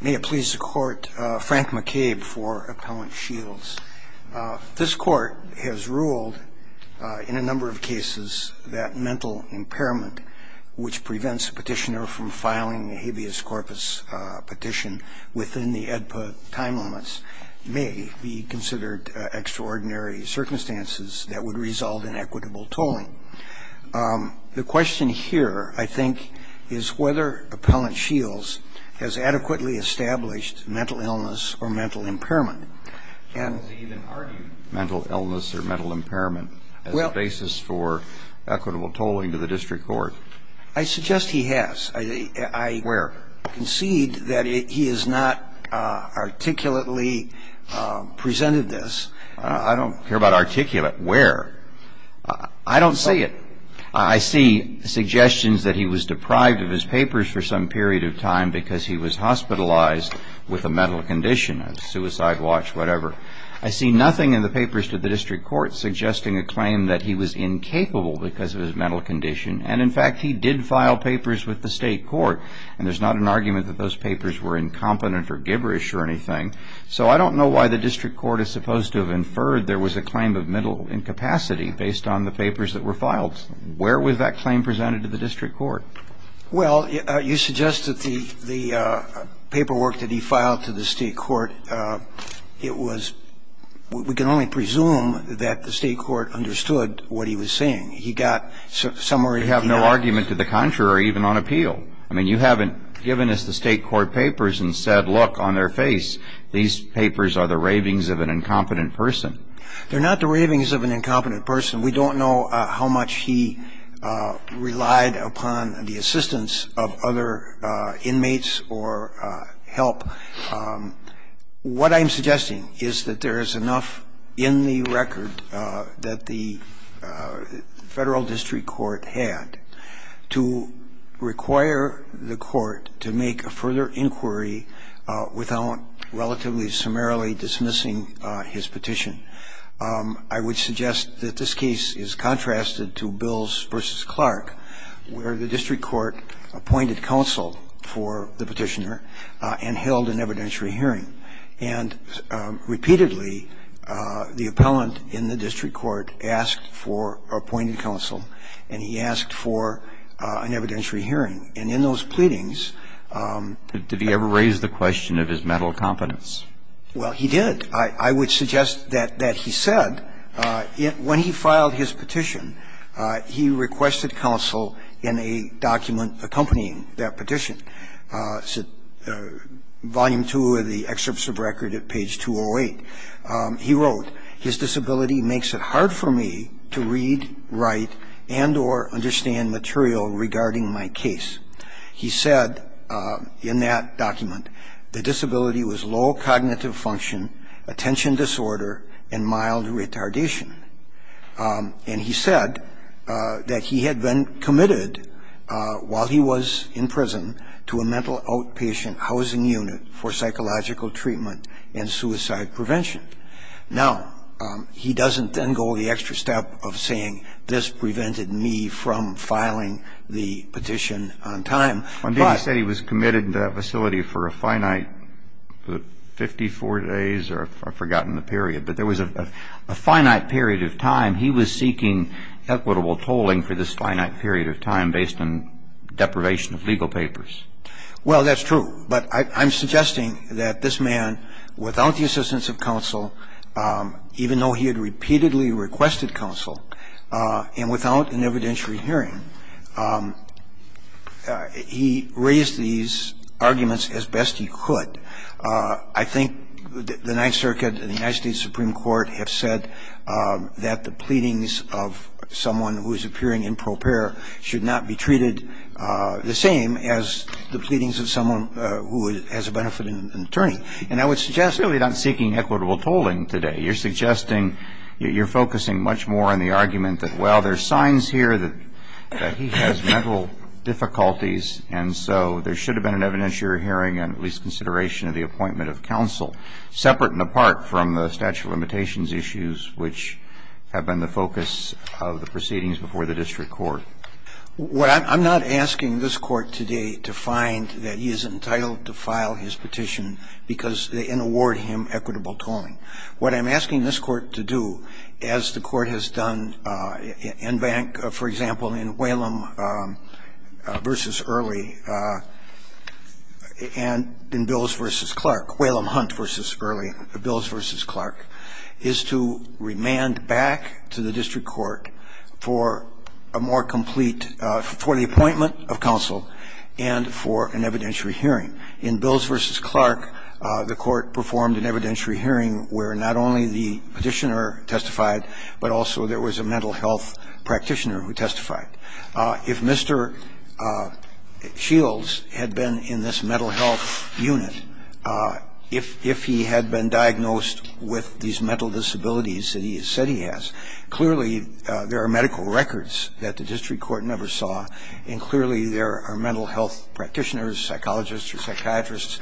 May it please the court, Frank McCabe for Appellant Shields. This court has ruled in a number of cases that mental impairment, which prevents a petitioner from filing a habeas corpus petition within the EDPA time limits, may be considered extraordinary circumstances that would resolve inequitable tolling. The question here, I think, is whether Appellant Shields has adequately established mental illness or mental impairment. And... Does he even argue mental illness or mental impairment as a basis for equitable tolling to the district court? I suggest he has. Where? I concede that he has not articulately presented this. I don't care about articulate where. I don't see it. I see suggestions that he was deprived of his papers for some period of time because he was hospitalized with a mental condition, a suicide watch, whatever. I see nothing in the papers to the district court suggesting a claim that he was incapable because of his mental condition. And, in fact, he did file papers with the state court. And there's not an argument that those papers were incompetent or gibberish or anything. So I don't know why the district court is supposed to have inferred there was a claim of mental incapacity based on the papers that were filed. Where was that claim presented to the district court? Well, you suggest that the paperwork that he filed to the state court, it was we can only presume that the state court understood what he was saying. He got somewhere in the... You have no argument to the contrary even on appeal. I mean, you haven't given us the state court papers and said, look, on their face, these papers are the ravings of an incompetent person. They're not the ravings of an incompetent person. We don't know how much he relied upon the assistance of other inmates or help. What I'm suggesting is that there is enough in the record that the Federal District Court had to require the court to make a further inquiry without relatively summarily dismissing his petition. I would suggest that this case is contrasted to Bills v. Clark, where the district court appointed counsel for the petitioner and held an evidentiary hearing. And repeatedly, the appellant in the district court asked for appointed counsel, and he asked for an evidentiary hearing. And in those pleadings... Did he ever raise the question of his mental incompetence? Well, he did. I would suggest that he said when he filed his petition, he requested counsel in a document accompanying that petition, Volume 2 of the excerpts of record at page 208. He wrote, His disability makes it hard for me to read, write, and or understand material regarding my case. He said in that document, The disability was low cognitive function, attention disorder, and mild retardation. And he said that he had been committed, while he was in prison, to a mental outpatient housing unit for psychological treatment and suicide prevention. Now, he doesn't then go the extra step of saying, This prevented me from filing the petition on time. Indeed, he said he was committed to that facility for a finite 54 days, or I've forgotten the period. But there was a finite period of time. He was seeking equitable tolling for this finite period of time based on deprivation of legal papers. Well, that's true. But I'm suggesting that this man, without the assistance of counsel, even though he had repeatedly requested counsel, and without an evidentiary hearing, he raised these arguments as best he could. I think the Ninth Circuit and the United States Supreme Court have said that the pleadings of someone who is appearing in pro para should not be treated the same as the pleadings And I would suggest You're really not seeking equitable tolling today. You're suggesting, you're focusing much more on the argument that, well, there's signs here that he has mental difficulties, and so there should have been an evidentiary hearing and at least consideration of the appointment of counsel, separate and apart from the statute of limitations issues, which have been the focus of the proceedings before the district court. What I'm not asking this Court today to find that he is entitled to file his petition because they inaward him equitable tolling. What I'm asking this Court to do, as the Court has done in bank, for example, in Whalum v. Early and in Bills v. Clark, Whalum Hunt v. Early, Bills v. Clark, is to remand back to the district court for a more complete, for the appointment of counsel and for an evidentiary hearing. In Bills v. Clark, the court performed an evidentiary hearing where not only the petitioner testified, but also there was a mental health practitioner who testified. If Mr. Shields had been in this mental health unit, if he had been diagnosed with these mental disabilities that he said he has, clearly there are medical records that the district court never saw, and clearly there are mental health practitioners, psychologists or psychiatrists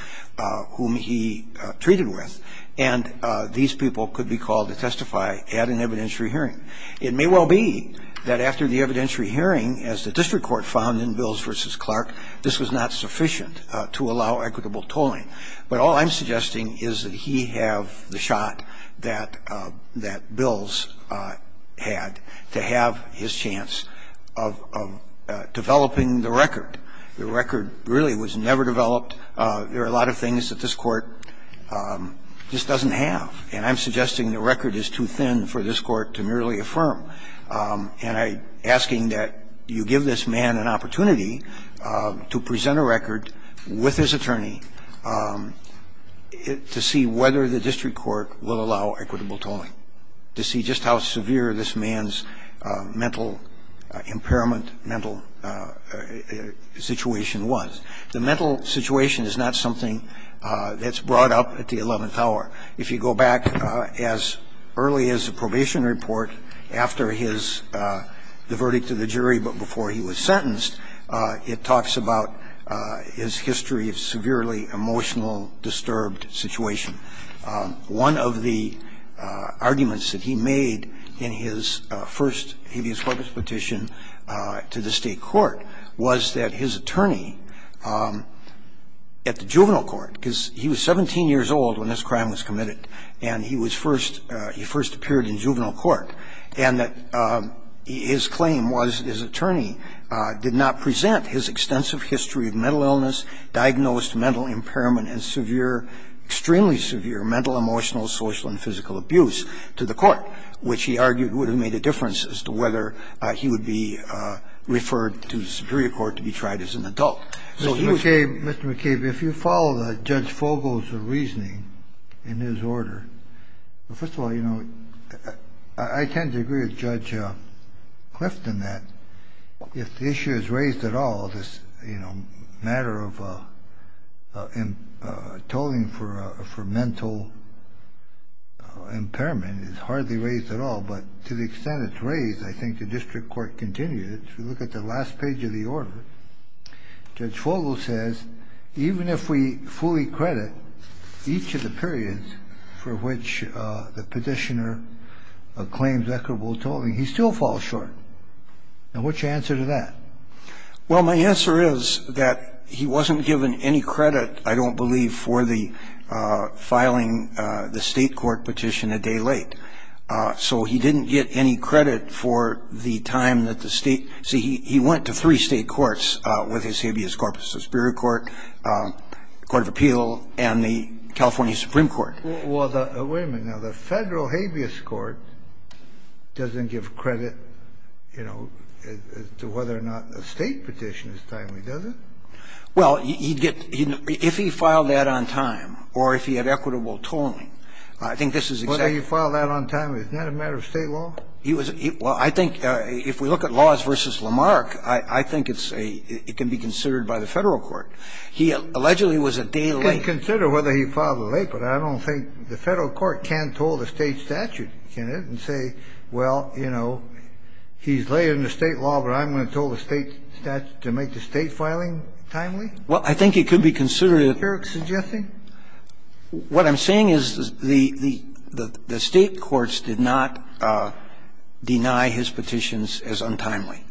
whom he treated with, and these people could be called to testify at an evidentiary hearing. It may well be that after the evidentiary hearing, as the district court found in Bills v. Clark, this was not sufficient to allow equitable tolling. But all I'm suggesting is that he have the shot that Bills had to have his chance of developing the record. The record really was never developed. There are a lot of things that this Court just doesn't have. And I'm suggesting the record is too thin for this Court to merely affirm. And I'm asking that you give this man an opportunity to present a record with his attorney to see whether the district court will allow equitable tolling, to see just how severe this man's mental impairment, mental situation was. The mental situation is not something that's brought up at the 11th hour. If you go back as early as the probation report after the verdict of the jury, but before he was sentenced, it talks about his history of severely emotional, disturbed situation. One of the arguments that he made in his first habeas corpus petition to the state court was that his attorney at the juvenile court, because he was 17 years old when this crime was committed, and he first appeared in juvenile court, and that his claim was his attorney did not present his extensive history of mental illness, diagnosed mental impairment and severe, extremely severe mental, emotional, social, and physical abuse to the court, which he argued would have made a difference as to whether he would be referred to the superior court to be tried as an adult. Mr. McCabe, if you follow Judge Fogel's reasoning in his order, first of all, I tend to agree with Judge Clifton that if the issue is raised at all, this matter of tolling for mental impairment is hardly raised at all, but to the extent it's raised, I think the district court continues. If you look at the last page of the order, Judge Fogel says, even if we fully credit each of the periods for which the petitioner claims equitable tolling, he still falls short. Now, what's your answer to that? Well, my answer is that he wasn't given any credit, I don't believe, for the filing the state court petition a day late. So he didn't get any credit for the time that the state – see, he went to three state courts with his habeas corpus, the superior court, court of appeal, and the California supreme court. Well, the – wait a minute. Now, the Federal habeas court doesn't give credit, you know, to whether or not a state petition is timely, does it? Well, he'd get – if he filed that on time or if he had equitable tolling, I think this is exactly – So whether he filed that on time is not a matter of State law? He was – well, I think if we look at laws versus Lamarck, I think it's a – it can be considered by the Federal court. He allegedly was a day late – You can consider whether he filed it late, but I don't think the Federal court can toll the State statute, can it, and say, well, you know, he's late in the State law, but I'm going to toll the State statute to make the State filing timely? Well, I think it could be considered – Is that what you're suggesting? What I'm saying is the State courts did not deny his petitions as untimely.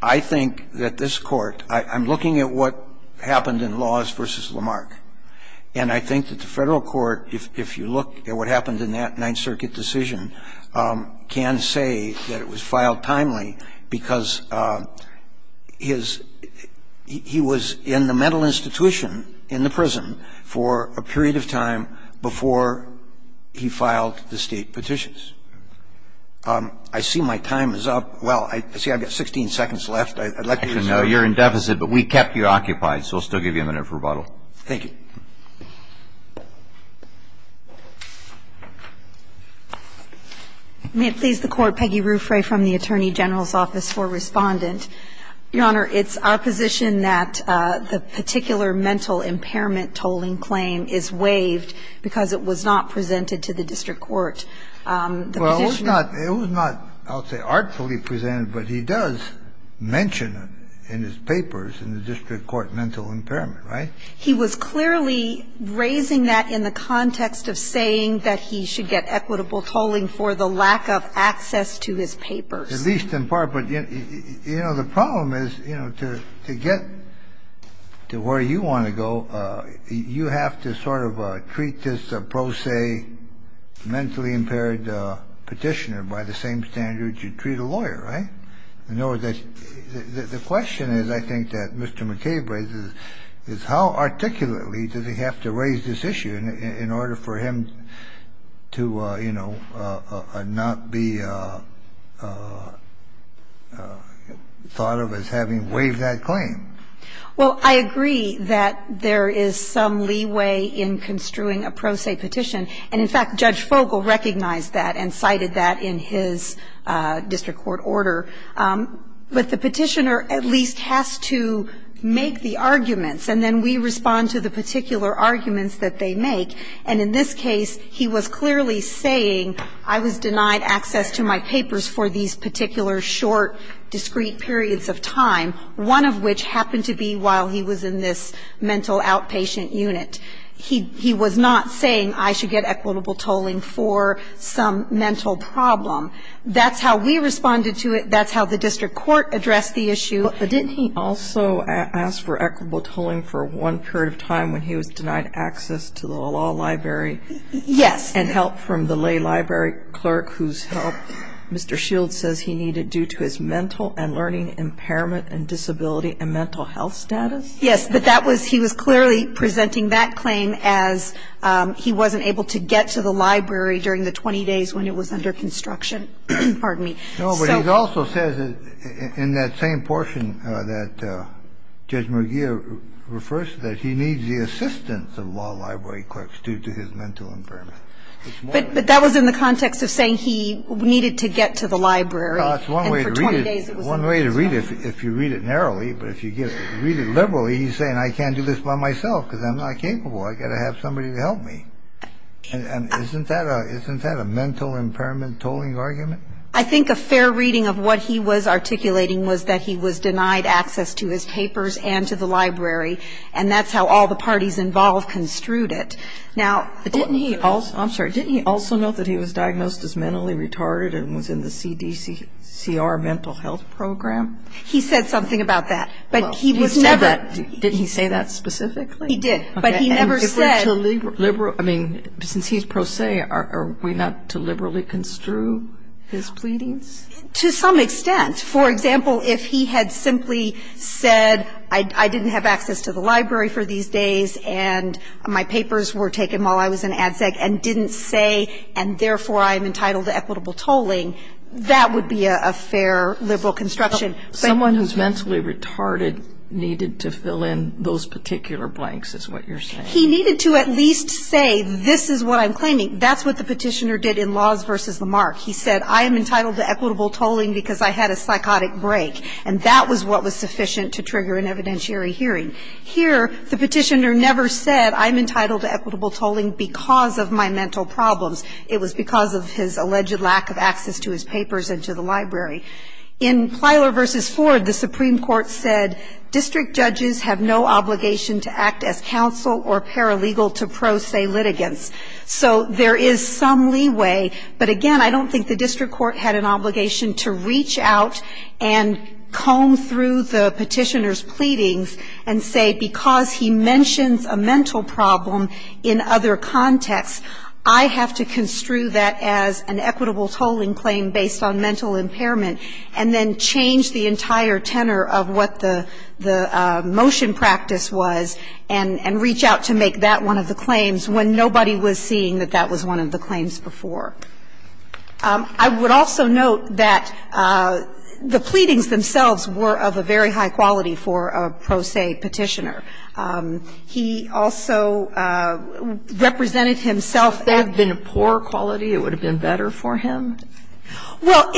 I think that this Court – I'm looking at what happened in laws versus Lamarck, and I think that the Federal court, if you look at what happened in that Ninth Circuit decision, can say that it was filed timely because his – he was in the mental institution in the prison for a period of time before he filed the State petitions. I see my time is up. Well, I see I've got 16 seconds left. I'd like to use that. Actually, no, you're in deficit, but we kept you occupied, so we'll still give you a minute for rebuttal. Thank you. May it please the Court, Peggy Ruffray from the Attorney General's Office for Respondent. Your Honor, it's our position that the particular mental impairment tolling claim is waived because it was not presented to the district court. Well, it was not, I'll say, artfully presented, but he does mention in his papers in the district court mental impairment, right? He was clearly raising that in the context of saying that he should get equitable tolling for the lack of access to his papers. At least in part, but, you know, the problem is, you know, to get to where you want to go, you have to sort of treat this pro se mentally impaired petitioner by the same standard you'd treat a lawyer, right? In other words, the question is, I think, that Mr. McCabe raises is how articulately does he have to raise this issue in order for him to, you know, not be thought of as having waived that claim? Well, I agree that there is some leeway in construing a pro se petition, and in fact, Judge Fogle recognized that and cited that in his district court order. But the petitioner at least has to make the arguments, and then we respond to the petitioner with the particular arguments that they make. And in this case, he was clearly saying I was denied access to my papers for these particular short, discrete periods of time, one of which happened to be while he was in this mental outpatient unit. He was not saying I should get equitable tolling for some mental problem. That's how we responded to it. That's how the district court addressed the issue. But didn't he also ask for equitable tolling for one period of time when he was denied access to the law library? Yes. And help from the lay library clerk whose help Mr. Shields says he needed due to his mental and learning impairment and disability and mental health status? Yes. But that was he was clearly presenting that claim as he wasn't able to get to the library during the 20 days when it was under construction. Pardon me. No, but he also says in that same portion that Judge McGeer refers to that he needs the assistance of law library clerks due to his mental impairment. But that was in the context of saying he needed to get to the library and for 20 days it was under construction. One way to read it, if you read it narrowly, but if you read it liberally, he's saying I can't do this by myself because I'm not capable. I've got to have somebody to help me. And isn't that a mental impairment tolling argument? I think a fair reading of what he was articulating was that he was denied access to his papers and to the library. And that's how all the parties involved construed it. Now, didn't he also, I'm sorry, didn't he also note that he was diagnosed as mentally retarded and was in the CDCR mental health program? He said something about that. But he was never. Didn't he say that specifically? He did. But he never said. I mean, since he's pro se, are we not to liberally construe his pleadings? To some extent. For example, if he had simply said I didn't have access to the library for these days and my papers were taken while I was in ad sec and didn't say and therefore I am entitled to equitable tolling, that would be a fair liberal construction. Someone who's mentally retarded needed to fill in those particular blanks is what you're saying. He needed to at least say this is what I'm claiming. That's what the petitioner did in Laws v. Lamarck. He said I am entitled to equitable tolling because I had a psychotic break. And that was what was sufficient to trigger an evidentiary hearing. Here, the petitioner never said I'm entitled to equitable tolling because of my mental problems. It was because of his alleged lack of access to his papers and to the library. In Plyler v. Ford, the Supreme Court said district judges have no obligation to act as counsel or paralegal to pro se litigants. So there is some leeway. But, again, I don't think the district court had an obligation to reach out and comb through the petitioner's pleadings and say because he mentions a mental problem in other contexts, I have to construe that as an equitable tolling claim based on mental impairment and then change the entire tenor of what the motion practice was and reach out to make that one of the claims when nobody was seeing that that was one of the claims before. I would also note that the pleadings themselves were of a very high quality for a pro se petitioner. He also represented himself as an equitable tolling. Sotomayor, that would have been a poor quality? It would have been better for him? Well,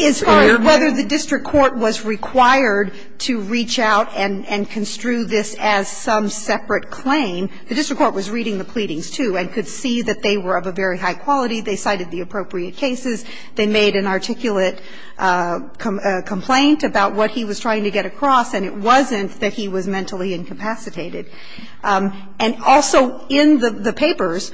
as far as whether the district court was required to reach out and construe this as some separate claim, the district court was reading the pleadings, too, and could see that they were of a very high quality. They cited the appropriate cases. They made an articulate complaint about what he was trying to get across. And it wasn't that he was mentally incapacitated. And also in the papers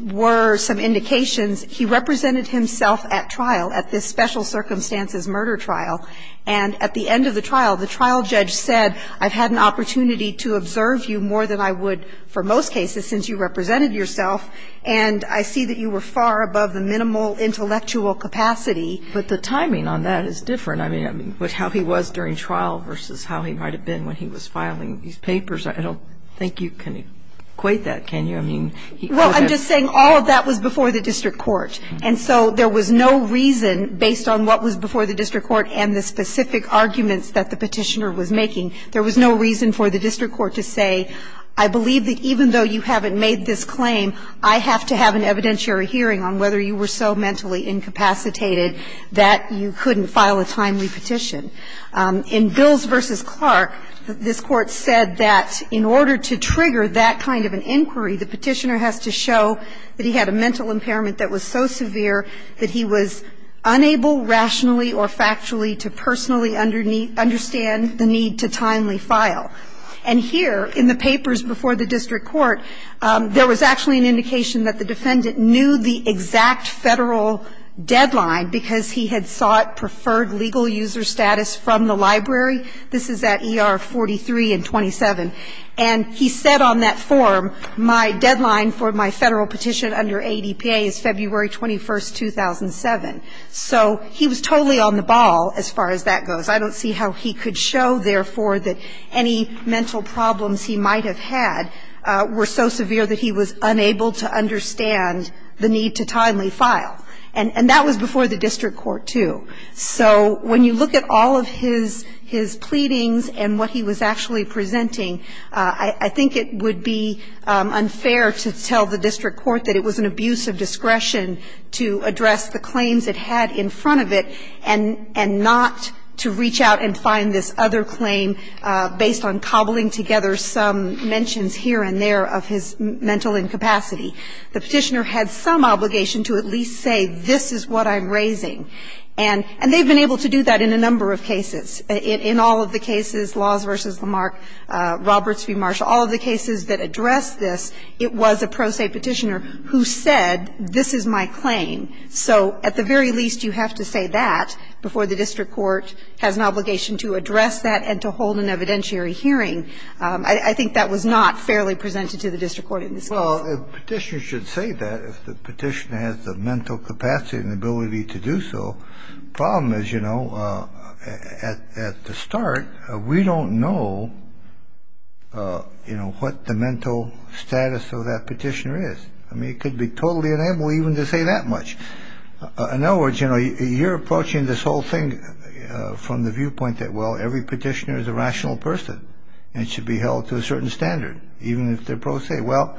were some indications he represented himself at trial, at this special circumstances murder trial. And at the end of the trial, the trial judge said, I've had an opportunity to observe you more than I would for most cases since you represented yourself, and I see that you were far above the minimal intellectual capacity. But the timing on that is different. I mean, how he was during trial versus how he might have been when he was filing these papers, I don't think you can equate that, can you? I mean, he could have been. Well, I'm just saying all of that was before the district court. And so there was no reason, based on what was before the district court and the specific arguments that the petitioner was making, there was no reason for the district court to say, I believe that even though you haven't made this claim, I have to have an evidentiary hearing on whether you were so mentally incapacitated that you couldn't file a timely petition. In Bills v. Clark, this Court said that in order to trigger that kind of an inquiry, the petitioner has to show that he had a mental impairment that was so severe that he was unable rationally or factually to personally understand the need to timely file. And here, in the papers before the district court, there was actually an indication that the defendant knew the exact Federal deadline because he had sought preferred legal user status from the library. This is at ER 43 and 27. And he said on that form, my deadline for my Federal petition under ADPA is February 21, 2007. So he was totally on the ball as far as that goes. I don't see how he could show, therefore, that any mental problems he might have had were so severe that he was unable to understand the need to timely file. And that was before the district court, too. So when you look at all of his pleadings and what he was actually presenting, I think it would be unfair to tell the district court that it was an abuse of discretion to address the claims it had in front of it and not to reach out and find this other claim based on cobbling together some mentions here and there of his mental incapacity. The Petitioner had some obligation to at least say, this is what I'm raising. And they've been able to do that in a number of cases. In all of the cases, Laws v. Lamarck, Roberts v. Marshall, all of the cases that addressed this, it was a pro se Petitioner who said, this is my claim. So at the very least, you have to say that before the district court has an obligation to address that and to hold an evidentiary hearing. I think that was not fairly presented to the district court in this case. Well, Petitioner should say that if the Petitioner has the mental capacity and ability to do so. Problem is, you know, at the start, we don't know, you know, what the mental status of that Petitioner is. I mean, it could be totally unable even to say that much. In other words, you know, you're approaching this whole thing from the viewpoint that, well, every Petitioner is a rational person and should be held to a certain standard, even if they're pro se. Well,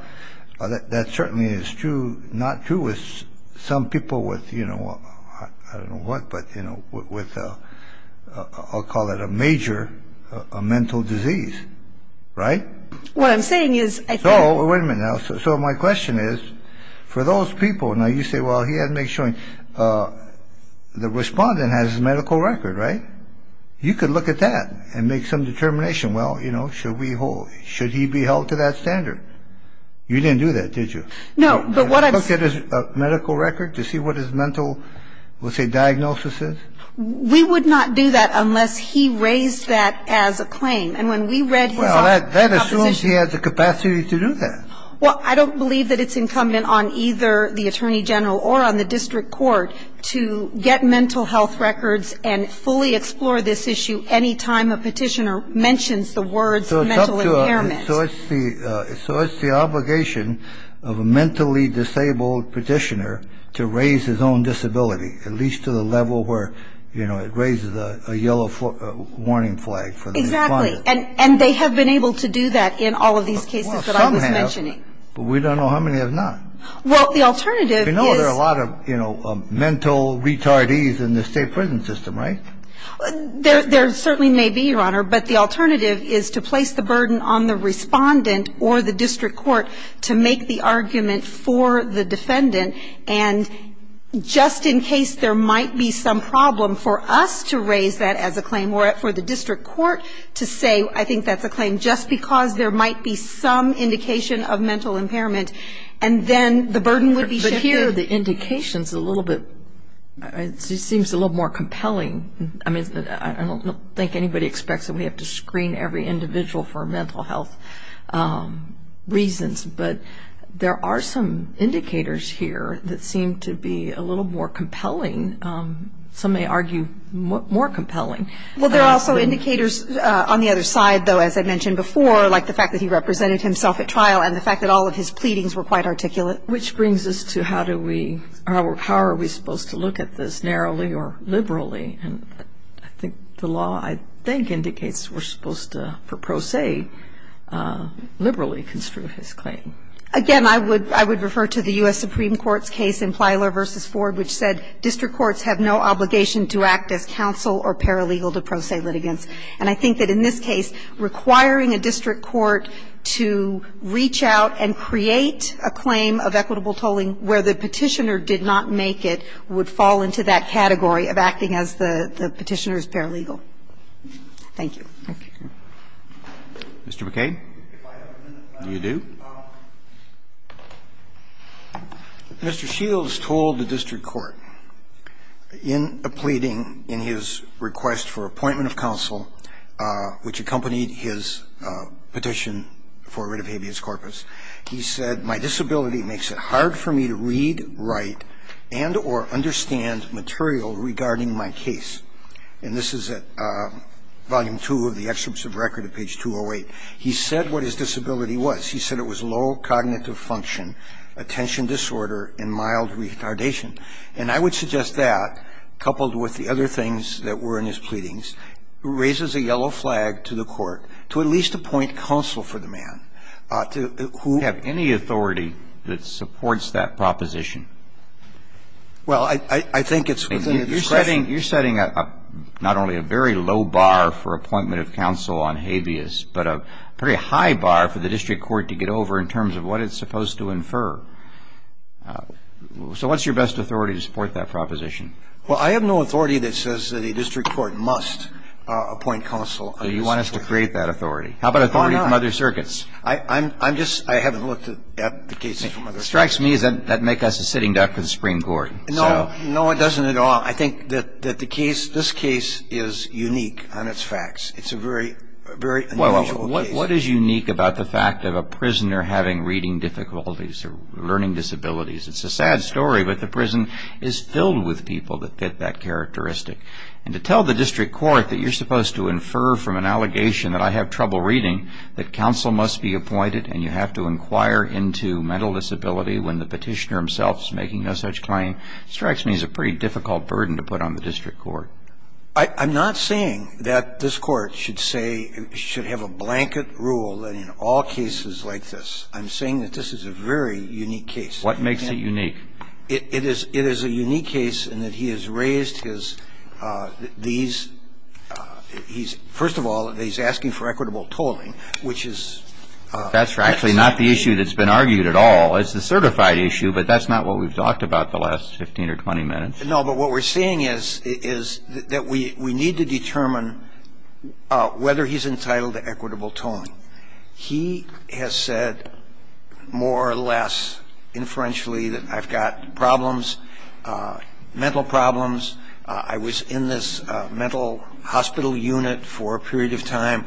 that certainly is true, not true with some people with, you know, I don't know what, but, you know, with, I'll call it a major mental disease. Right? What I'm saying is. So wait a minute now. So my question is for those people. Now, you say, well, he had to make sure the respondent has a medical record, right? You could look at that and make some determination. Well, you know, should we hold, should he be held to that standard? You didn't do that, did you? No, but what I'm saying. Look at his medical record to see what his mental, let's say, diagnosis is? We would not do that unless he raised that as a claim. And when we read his opposition. Well, that assumes he has the capacity to do that. Well, I don't believe that it's incumbent on either the attorney general or on the district court to get mental health records and fully explore this issue any time a petitioner mentions the words mental impairment. So it's the obligation of a mentally disabled petitioner to raise his own disability, at least to the level where, you know, it raises a yellow warning flag for the respondent. Exactly. And they have been able to do that in all of these cases that I was mentioning. Well, some have, but we don't know how many have not. Well, the alternative is. You know, there are a lot of, you know, mental retardees in the state prison system, right? There certainly may be, Your Honor, but the alternative is to place the burden on the respondent or the district court to make the argument for the defendant. And just in case there might be some problem for us to raise that as a claim or for the district court to say I think that's a claim just because there might be some indication of mental impairment and then the burden would be shifted. But here the indication is a little bit, it seems a little more compelling. I mean, I don't think anybody expects that we have to screen every individual for mental health reasons, but there are some indicators here that seem to be a little more compelling. Some may argue more compelling. Well, there are also indicators on the other side, though, as I mentioned before, like the fact that he represented himself at trial and the fact that all of his pleadings were quite articulate. Which brings us to how do we, how are we supposed to look at this narrowly or liberally? And I think the law, I think, indicates we're supposed to, per pro se, liberally construe his claim. Again, I would refer to the U.S. Supreme Court's case in Plyler v. Ford which said district courts have no obligation to act as counsel or paralegal to pro se litigants. And I think that in this case requiring a district court to reach out and create a claim of equitable tolling where the Petitioner did not make it would fall into that category of acting as the Petitioner's paralegal. Thank you. Roberts. Mr. McCain. Do you do? Mr. Shields told the district court in a pleading, in his request for appointment of counsel, which accompanied his petition for writ of habeas corpus, he said, my disability makes it hard for me to read, write, and or understand material regarding my case. And this is at Volume 2 of the Excerpts of Record at page 208. He said what his disability was. He said it was low cognitive function, attention disorder, and mild retardation. And I would suggest that, coupled with the other things that were in his pleadings, raises a yellow flag to the Court to at least appoint counsel for the man to who would have any authority that supports that proposition. Well, I think it's within the discretion. I think you're setting up not only a very low bar for appointment of counsel on habeas, but a pretty high bar for the district court to get over in terms of what it's supposed to infer. So what's your best authority to support that proposition? Well, I have no authority that says that a district court must appoint counsel on habeas. So you want us to create that authority. Why not? How about authority from other circuits? I'm just, I haven't looked at the cases from other circuits. What strikes me is that that would make us a sitting duck for the Supreme Court. No, it doesn't at all. I think that the case, this case is unique on its facts. It's a very unusual case. Well, what is unique about the fact of a prisoner having reading difficulties or learning disabilities? It's a sad story, but the prison is filled with people that get that characteristic. And to tell the district court that you're supposed to infer from an allegation that I have trouble reading that counsel must be appointed and you have to inquire into mental disability when the petitioner himself is making no such claim, strikes me as a pretty difficult burden to put on the district court. I'm not saying that this Court should say, should have a blanket rule in all cases like this. I'm saying that this is a very unique case. What makes it unique? It is a unique case in that he has raised his, these, he's, first of all, he's asking for equitable tolling, which is. That's actually not the issue that's been argued at all. It's a certified issue, but that's not what we've talked about the last 15 or 20 minutes. No, but what we're seeing is that we need to determine whether he's entitled to equitable tolling. He has said more or less inferentially that I've got problems, mental problems. I was in this mental hospital unit for a period of time.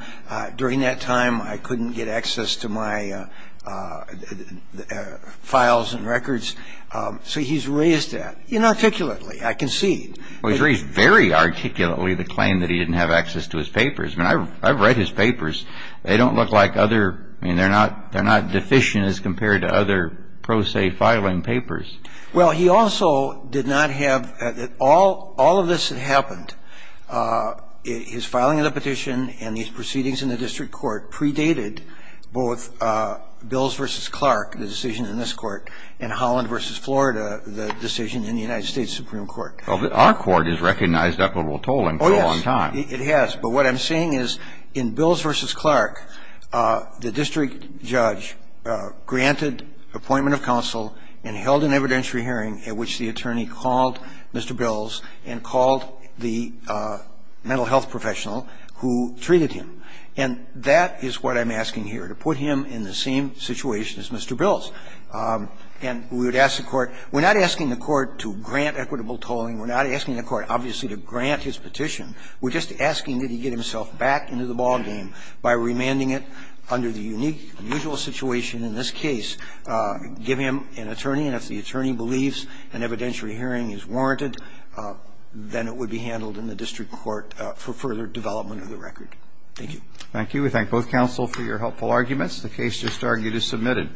During that time, I couldn't get access to my files and records. So he's raised that. Inarticulately, I can see. Well, he's raised very articulately the claim that he didn't have access to his papers. I mean, I've read his papers. They don't look like other, I mean, they're not deficient as compared to other pro se filing papers. Well, he also did not have, all of this had happened. His filing of the petition and these proceedings in the district court predated both Bills v. Clark, the decision in this court, and Holland v. Florida, the decision in the United States Supreme Court. Well, but our court has recognized equitable tolling for a long time. Oh, yes, it has. But what I'm saying is in Bills v. Clark, the district judge granted appointment of counsel and held an evidentiary hearing at which the attorney called Mr. Bills and called the mental health professional who treated him. And that is what I'm asking here, to put him in the same situation as Mr. Bills. And we would ask the court. We're not asking the court to grant equitable tolling. We're not asking the court, obviously, to grant his petition. We're just asking that he get himself back into the ballgame by remanding it under the unique unusual situation in this case, give him an attorney, and if the attorney believes an evidentiary hearing is warranted, then it would be handled in the district court for further development of the record. Thank you. Thank you. We thank both counsel for your helpful arguments. The case just argued is submitted.